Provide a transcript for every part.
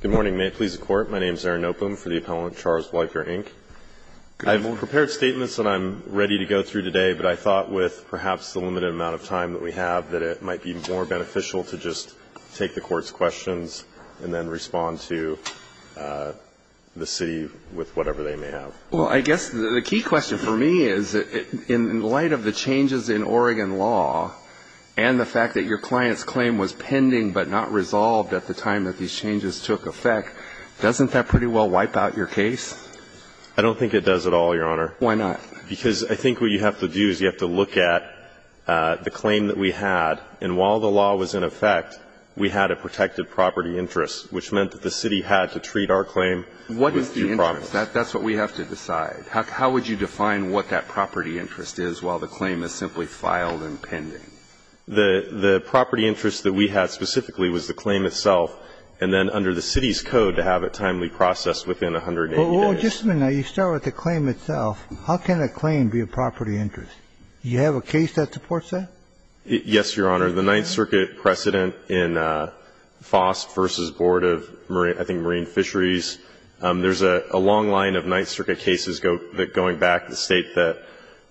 Good morning. May it please the Court, my name is Aaron Nopom for the Appellant Charles Wiper, Inc. I've prepared statements that I'm ready to go through today, but I thought with perhaps the limited amount of time that we have that it might be more beneficial to just take the Court's questions and then respond to the City with whatever they may have. Well, I guess the key question for me is in light of the changes in Oregon law and the fact that your client's claim was pending but not resolved at the time that these changes took effect, doesn't that pretty well wipe out your case? I don't think it does at all, Your Honor. Why not? Because I think what you have to do is you have to look at the claim that we had, and while the law was in effect, we had a protected property interest, which meant that the City had to treat our claim with due promise. That's what we have to decide. How would you define what that property interest is while the claim is simply filed and pending? The property interest that we had specifically was the claim itself and then under the City's code to have it timely processed within 180 days. Well, just a minute. You start with the claim itself. How can a claim be a property interest? Do you have a case that supports that? Yes, Your Honor. The Ninth Circuit precedent in FOSP v. Board of, I think, Marine Fisheries, there's a long line of Ninth Circuit cases going back to state that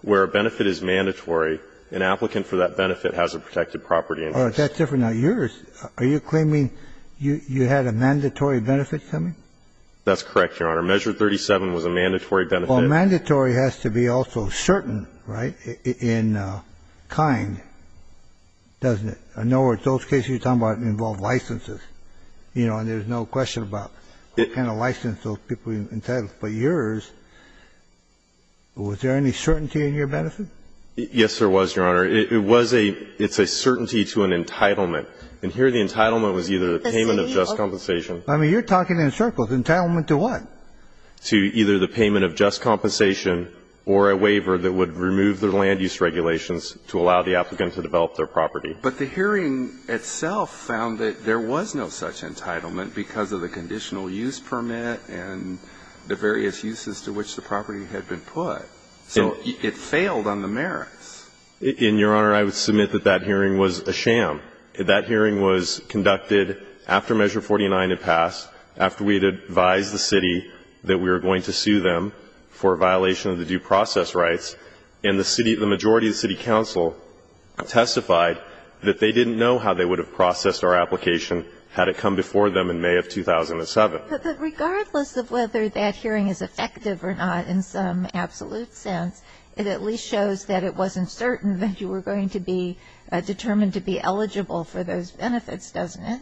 where a benefit is mandatory, an applicant for that benefit has a protected property interest. All right. That's different than yours. Are you claiming you had a mandatory benefit, tell me? That's correct, Your Honor. Measure 37 was a mandatory benefit. Well, mandatory has to be also certain, right, in kind. Doesn't it? I know in those cases you're talking about involved licenses, you know, and there's no question about what kind of license those people entitled, but yours, was there any certainty in your benefit? Yes, there was, Your Honor. It was a – it's a certainty to an entitlement. And here the entitlement was either the payment of just compensation. I mean, you're talking in circles. Entitlement to what? To either the payment of just compensation or a waiver that would remove the land lease regulations to allow the applicant to develop their property. But the hearing itself found that there was no such entitlement because of the conditional use permit and the various uses to which the property had been put. So it failed on the merits. And, Your Honor, I would submit that that hearing was a sham. That hearing was conducted after Measure 49 had passed, after we had advised the city that we were going to sue them for violation of the due process rights. And the majority of the city council testified that they didn't know how they would have processed our application had it come before them in May of 2007. But regardless of whether that hearing is effective or not in some absolute sense, it at least shows that it wasn't certain that you were going to be determined to be eligible for those benefits, doesn't it?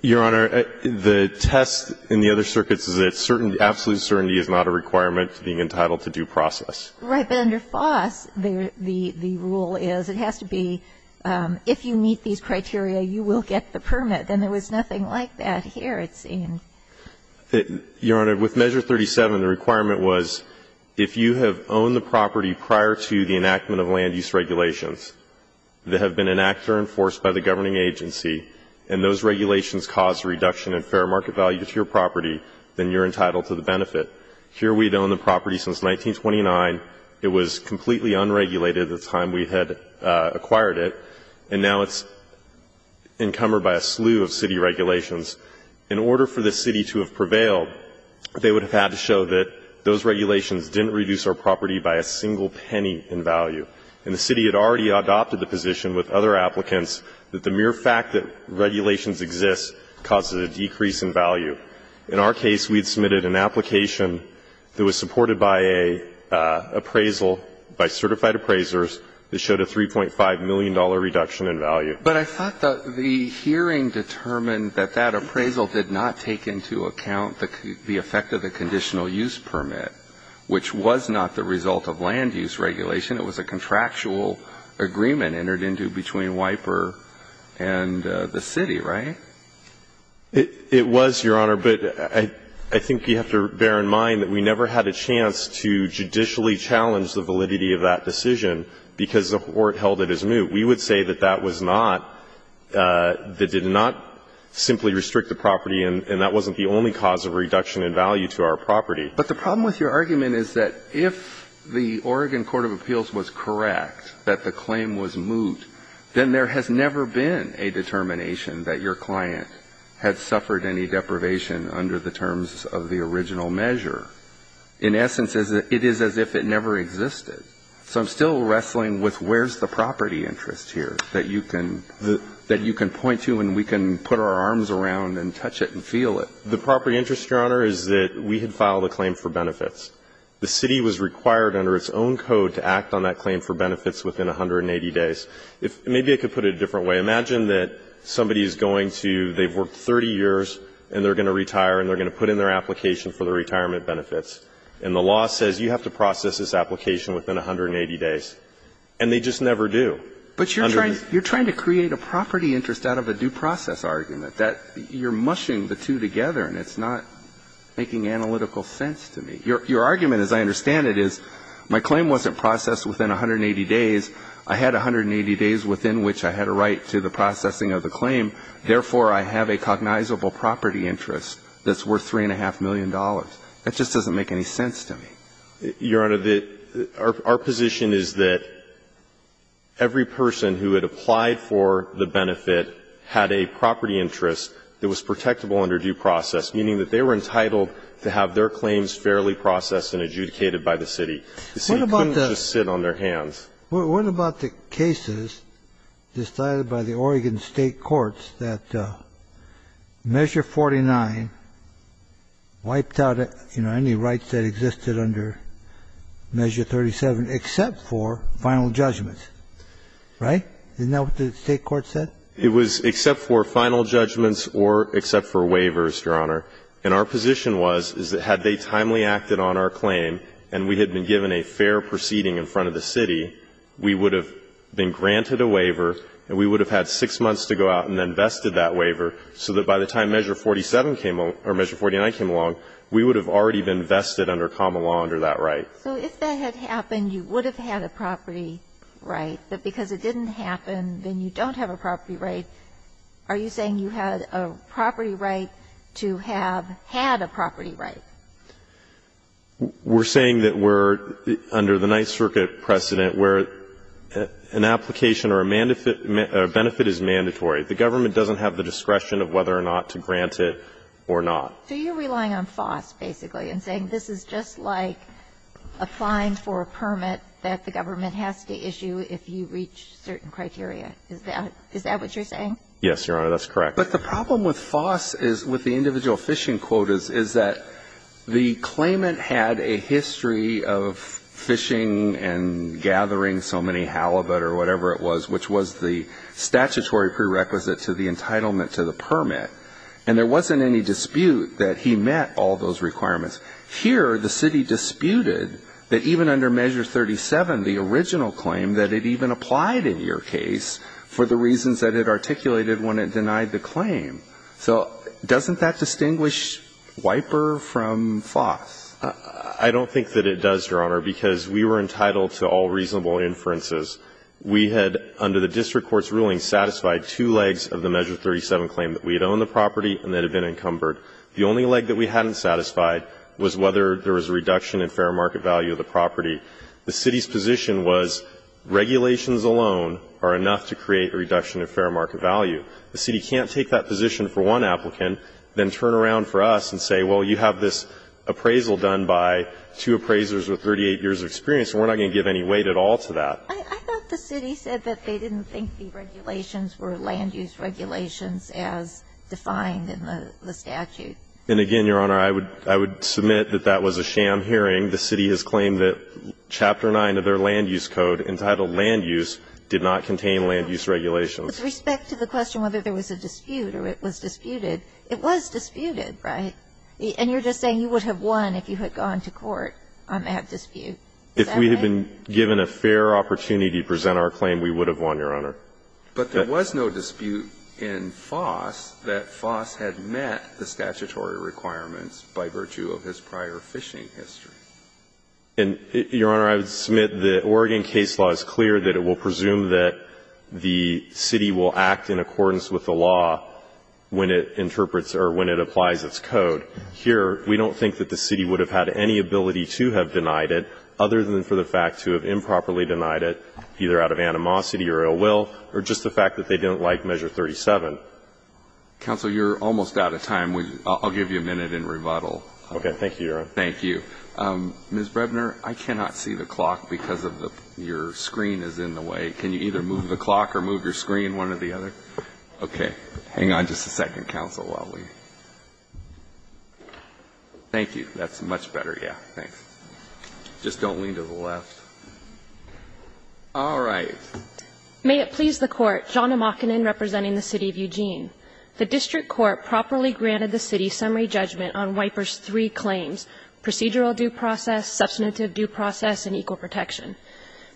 Your Honor, the test in the other circuits is that absolute certainty is not a requirement to being entitled to due process. Right. But under FOSS, the rule is it has to be if you meet these criteria, you will get the permit. Then there was nothing like that here, it seems. Your Honor, with Measure 37, the requirement was if you have owned the property prior to the enactment of land use regulations that have been enacted or enforced by the governing agency and those regulations cause a reduction in fair market value to your property, then you're entitled to the benefit. Here we had owned the property since 1929. It was completely unregulated at the time we had acquired it. And now it's encumbered by a slew of city regulations. In order for the city to have prevailed, they would have had to show that those regulations didn't reduce our property by a single penny in value. And the city had already adopted the position with other applicants that the mere fact that regulations exist causes a decrease in value. In our case, we had submitted an application that was supported by a appraisal by certified appraisers that showed a $3.5 million reduction in value. But I thought that the hearing determined that that appraisal did not take into account the effect of the conditional use permit, which was not the result of land use regulation. It was a contractual agreement entered into between WIPER and the city, right? It was, Your Honor, but I think you have to bear in mind that we never had a chance to judicially challenge the validity of that decision because the court held it as moot. We would say that that was not the – did not simply restrict the property, and that wasn't the only cause of reduction in value to our property. But the problem with your argument is that if the Oregon court of appeals was correct that the claim was moot, then there has never been a determination that your client had suffered any deprivation under the terms of the original measure. In essence, it is as if it never existed. So I'm still wrestling with where's the property interest here that you can point to and we can put our arms around and touch it and feel it. The property interest, Your Honor, is that we had filed a claim for benefits. The city was required under its own code to act on that claim for benefits within 180 days. Maybe I could put it a different way. Imagine that somebody is going to – they've worked 30 years and they're going to retire and they're going to put in their application for their retirement benefits, and the law says you have to process this application within 180 days, and they just never do. But you're trying to create a property interest out of a due process argument. You're mushing the two together, and it's not making analytical sense to me. Your argument, as I understand it, is my claim wasn't processed within 180 days. I had 180 days within which I had a right to the processing of the claim. Therefore, I have a cognizable property interest that's worth $3.5 million. That just doesn't make any sense to me. Your Honor, our position is that every person who had applied for the benefit had a property interest that was protectable under due process, meaning that they were entitled to have their claims fairly processed and adjudicated by the city. The city couldn't just sit on their hands. What about the cases decided by the Oregon State Courts that Measure 49 wiped out any rights that existed under Measure 37 except for final judgments, right? Isn't that what the State Court said? It was except for final judgments or except for waivers, Your Honor. And our position was, is that had they timely acted on our claim and we had been given a fair proceeding in front of the city, we would have been granted a waiver and we would have had 6 months to go out and then vested that waiver so that by the time Measure 47 came or Measure 49 came along, we would have already been vested under common law under that right. So if that had happened, you would have had a property right. But because it didn't happen, then you don't have a property right. Are you saying you had a property right to have had a property right? We're saying that we're under the Ninth Circuit precedent where an application or a benefit is mandatory. The government doesn't have the discretion of whether or not to grant it or not. So you're relying on FOS basically and saying this is just like applying for a permit that the government has to issue if you reach certain criteria. Is that what you're saying? Yes, Your Honor. That's correct. But the problem with FOS is with the individual fishing quotas is that the claimant had a history of fishing and gathering so many halibut or whatever it was, which was the statutory prerequisite to the entitlement to the permit. And there wasn't any dispute that he met all those requirements. Here the city disputed that even under Measure 37, the original claim, that it even applied in your case for the reasons that it articulated when it denied the claim. So doesn't that distinguish WIPER from FOS? I don't think that it does, Your Honor, because we were entitled to all reasonable inferences. We had, under the district court's ruling, satisfied two legs of the Measure 37 claim that we had owned the property and that had been encumbered. The only leg that we hadn't satisfied was whether there was a reduction in fair market value of the property. The city's position was regulations alone are enough to create a reduction in fair market value. The city can't take that position for one applicant, then turn around for us and say, well, you have this appraisal done by two appraisers with 38 years of experience, and we're not going to give any weight at all to that. I thought the city said that they didn't think the regulations were land-use regulations as defined in the statute. And again, Your Honor, I would submit that that was a sham hearing. The city has claimed that Chapter 9 of their land-use code, entitled Land Use, did not contain land-use regulations. With respect to the question whether there was a dispute or it was disputed, it was disputed, right? And you're just saying you would have won if you had gone to court on that dispute. Is that right? If we had been given a fair opportunity to present our claim, we would have won, Your Honor. But there was no dispute in FOS that FOS had met the statutory requirements by virtue of his prior fishing history. And, Your Honor, I would submit the Oregon case law is clear that it will presume that the city will act in accordance with the law when it interprets or when it applies its code. Here, we don't think that the city would have had any ability to have denied it, other than for the fact to have improperly denied it, either out of animosity or ill will, or just the fact that they didn't like Measure 37. Counsel, you're almost out of time. I'll give you a minute and rebuttal. Thank you, Your Honor. Thank you. Ms. Brebner, I cannot see the clock because your screen is in the way. Can you either move the clock or move your screen one or the other? Okay. Hang on just a second, counsel, while we ---- Thank you. That's much better. Yeah. Thanks. Just don't lean to the left. All right. May it please the Court, John Amakinen representing the City of Eugene. The district court properly granted the city summary judgment on WIPER's three claims, procedural due process, substantive due process, and equal protection.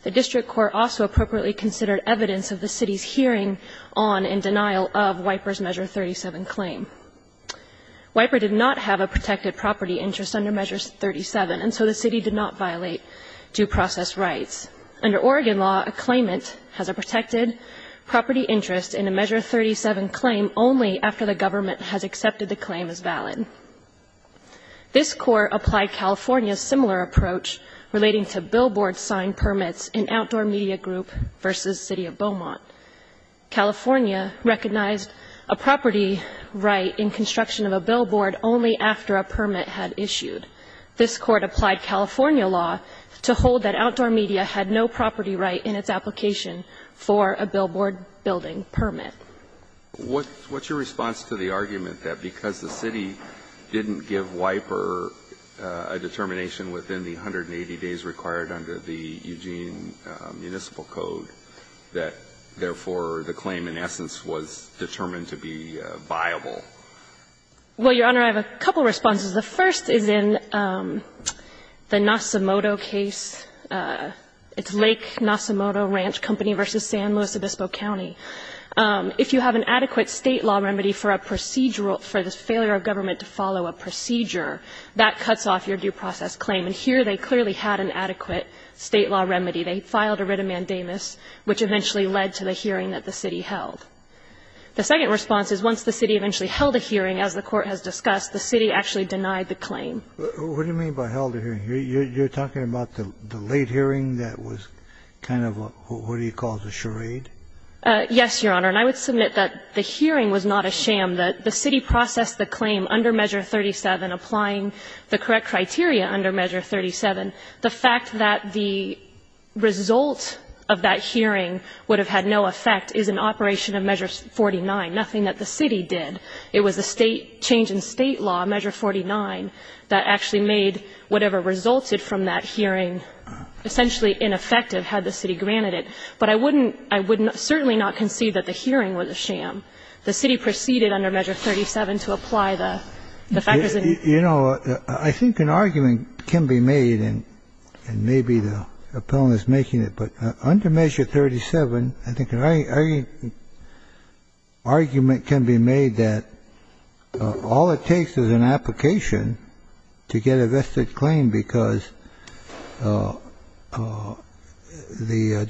The district court also appropriately considered evidence of the city's hearing on and denial of WIPER's Measure 37 claim. WIPER did not have a protected property interest under Measure 37, and so the city did not violate due process rights. Under Oregon law, a claimant has a protected property interest in a Measure 37 claim only after the government has accepted the claim as valid. This Court applied California's similar approach relating to billboard sign permits in Outdoor Media Group v. City of Beaumont. California recognized a property right in construction of a billboard only after a permit had issued. This Court applied California law to hold that Outdoor Media had no property right in its application for a billboard building permit. What's your response to the argument that because the city didn't give WIPER a determination within the 180 days required under the Eugene municipal code that, therefore, the claim in essence was determined to be viable? Well, Your Honor, I have a couple of responses. The first is in the Nosomoto case. It's Lake Nosomoto Ranch Company v. San Luis Obispo County. If you have an adequate State law remedy for a procedural – for the failure of government to follow a procedure, that cuts off your due process claim. And here they clearly had an adequate State law remedy. They filed a writ of mandamus, which eventually led to the hearing that the city held. The second response is once the city eventually held a hearing, as the Court has discussed, the city actually denied the claim. What do you mean by held a hearing? You're talking about the late hearing that was kind of a – what do you call it, a charade? Yes, Your Honor. And I would submit that the hearing was not a sham, that the city processed the claim under Measure 37, applying the correct criteria under Measure 37. The fact that the result of that hearing would have had no effect is an operation of Measure 49, nothing that the city did. It was the State change in State law, Measure 49, that actually made whatever resulted from that hearing essentially ineffective had the city granted it. But I wouldn't – I would certainly not concede that the hearing was a sham. The city proceeded under Measure 37 to apply the factors that it – You know, I think an argument can be made, and maybe the Appellant is making it, but under Measure 37, I think an argument can be made that all it takes is an application to get a vested claim because the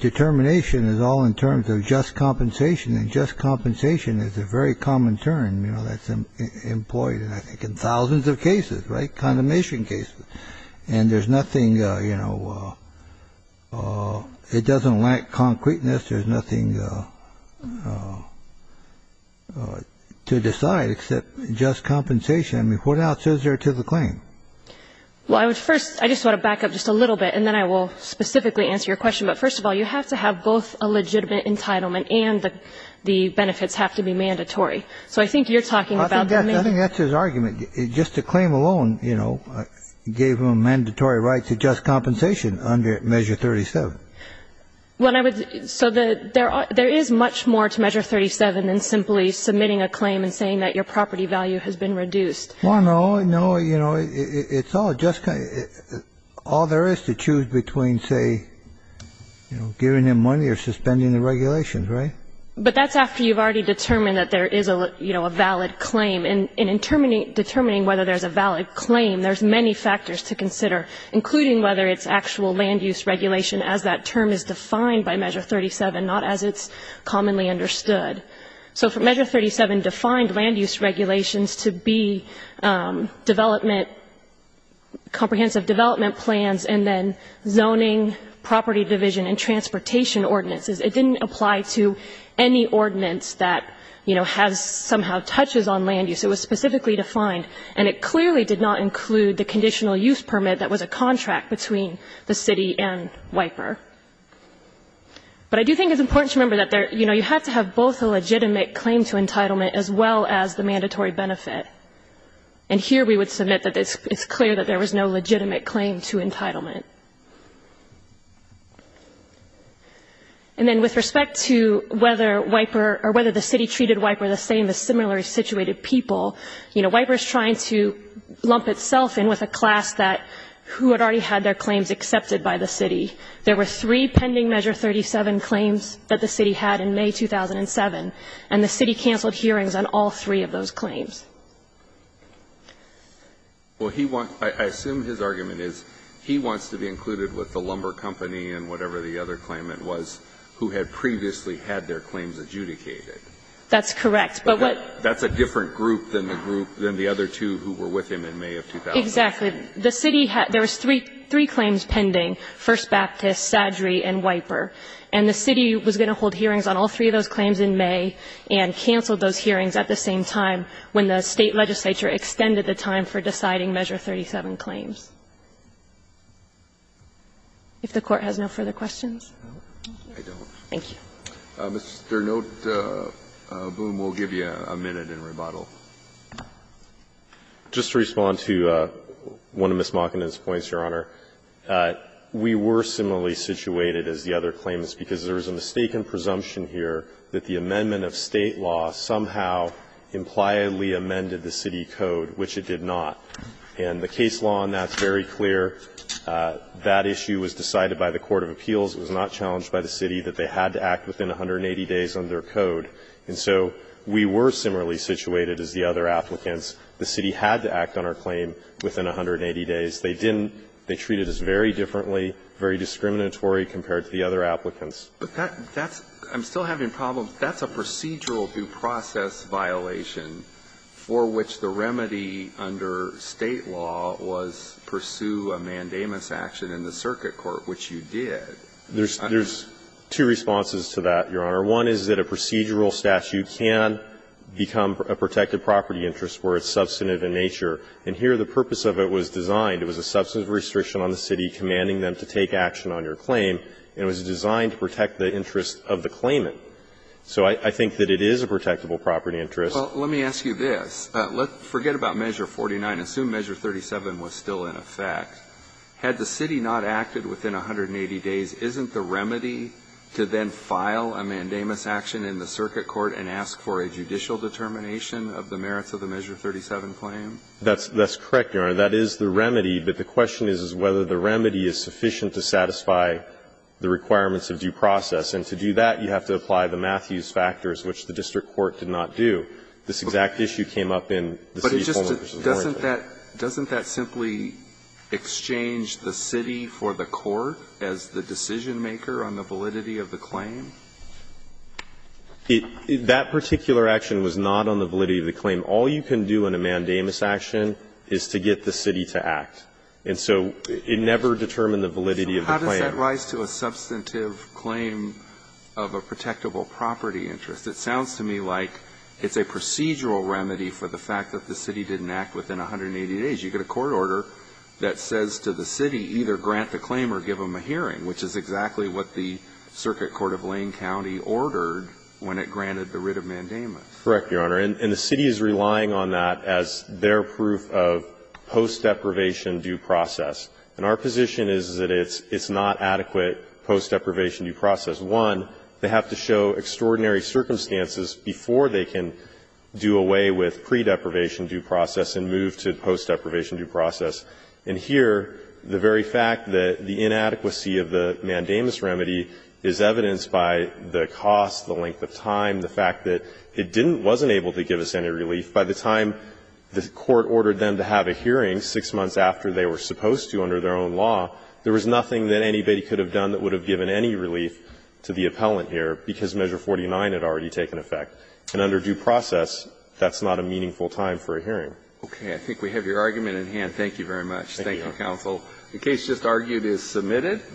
determination is all in terms of just compensation, and just compensation is a very common term, you know, that's employed, I think, in thousands of cases, right, condemnation cases. And there's nothing, you know, it doesn't lack concreteness. There's nothing to decide except just compensation. I mean, what else is there to the claim? Well, I would first – I just want to back up just a little bit, and then I will specifically answer your question. But first of all, you have to have both a legitimate entitlement and the benefits have to be mandatory. So I think you're talking about the main – I think that's his argument. Just the claim alone, you know, gave him a mandatory right to just compensation under Measure 37. Well, I would – so there is much more to Measure 37 than simply submitting a claim and saying that your property value has been reduced. Well, no, no. You know, it's all just – all there is to choose between, say, you know, giving him money or suspending the regulations, right? But that's after you've already determined that there is, you know, a valid claim. And in determining whether there's a valid claim, there's many factors to consider, including whether it's actual land use regulation as that term is defined by Measure 37, not as it's commonly understood. So Measure 37 defined land use regulations to be development – comprehensive development plans and then zoning, property division, and transportation ordinances. It didn't apply to any ordinance that, you know, has somehow touches on land use. It was specifically defined. And it clearly did not include the conditional use permit that was a contract between the city and WIPER. But I do think it's important to remember that there – you know, you have to have both a legitimate claim to entitlement as well as the mandatory benefit. And here we would submit that it's clear that there was no legitimate claim to entitlement. And then with respect to whether WIPER – or whether the city treated WIPER the same as similarly situated people, you know, WIPER is trying to lump itself in with a class that – who had already had their claims accepted by the city. There were three pending Measure 37 claims that the city had in May 2007, and the city canceled hearings on all three of those claims. Well, he wants – I assume his argument is he wants to be included with the lumber company and whatever the other claimant was who had previously had their claims adjudicated. That's correct. But what – That's a different group than the group – than the other two who were with him in May of 2007. Exactly. The city had – there was three claims pending, First Baptist, Saddrey, and WIPER. And the city was going to hold hearings on all three of those claims in May and canceled those hearings at the same time when the State legislature extended the time for deciding Measure 37 claims. If the Court has no further questions. I don't. Thank you. Mr. Noteboom, we'll give you a minute in rebuttal. Just to respond to one of Ms. Mockenden's points, Your Honor, we were similarly situated as the other claimants because there is a mistaken presumption here that the amendment of State law somehow impliedly amended the city code, which it did not. And the case law on that is very clear. That issue was decided by the court of appeals. It was not challenged by the city that they had to act within 180 days under code. And so we were similarly situated as the other applicants. The city had to act on our claim within 180 days. They didn't. They treated us very differently, very discriminatory compared to the other applicants. But that's – I'm still having problems. That's a procedural due process violation for which the remedy under State law was pursue a mandamus action in the circuit court, which you did. There's two responses to that, Your Honor. One is that a procedural statute can become a protected property interest where it's substantive in nature. And here the purpose of it was designed. It was a substantive restriction on the city commanding them to take action on your claim, and it was designed to protect the interest of the claimant. So I think that it is a protectable property interest. Well, let me ask you this. Forget about Measure 49. Assume Measure 37 was still in effect. Had the city not acted within 180 days, isn't the remedy to then file a mandamus action in the circuit court and ask for a judicial determination of the merits of the Measure 37 claim? That's correct, Your Honor. That is the remedy. But the question is, is whether the remedy is sufficient to satisfy the requirements of due process. And to do that, you have to apply the Matthews factors, which the district court did not do. This exact issue came up in the city's form which is more interesting. But it just doesn't that doesn't that simply exchange the city for the court as the decision maker on the validity of the claim? That particular action was not on the validity of the claim. All you can do in a mandamus action is to get the city to act. And so it never determined the validity of the claim. So how does that rise to a substantive claim of a protectable property interest? It sounds to me like it's a procedural remedy for the fact that the city didn't act within 180 days. You get a court order that says to the city either grant the claim or give them a hearing, which is exactly what the circuit court of Lane County ordered when it granted the writ of mandamus. Correct, Your Honor. And the city is relying on that as their proof of post-deprivation due process. And our position is that it's not adequate post-deprivation due process. One, they have to show extraordinary circumstances before they can do away with pre-deprivation due process and move to post-deprivation due process. And here, the very fact that the inadequacy of the mandamus remedy is evidenced by the cost, the length of time, the fact that it didn't, wasn't able to give us any relief. By the time the court ordered them to have a hearing 6 months after they were supposed to under their own law, there was nothing that anybody could have done that would have given any relief to the appellant here because measure 49 had already taken effect. And under due process, that's not a meaningful time for a hearing. Okay. I think we have your argument in hand. Thank you very much. Thank you, counsel. The case just argued is submitted.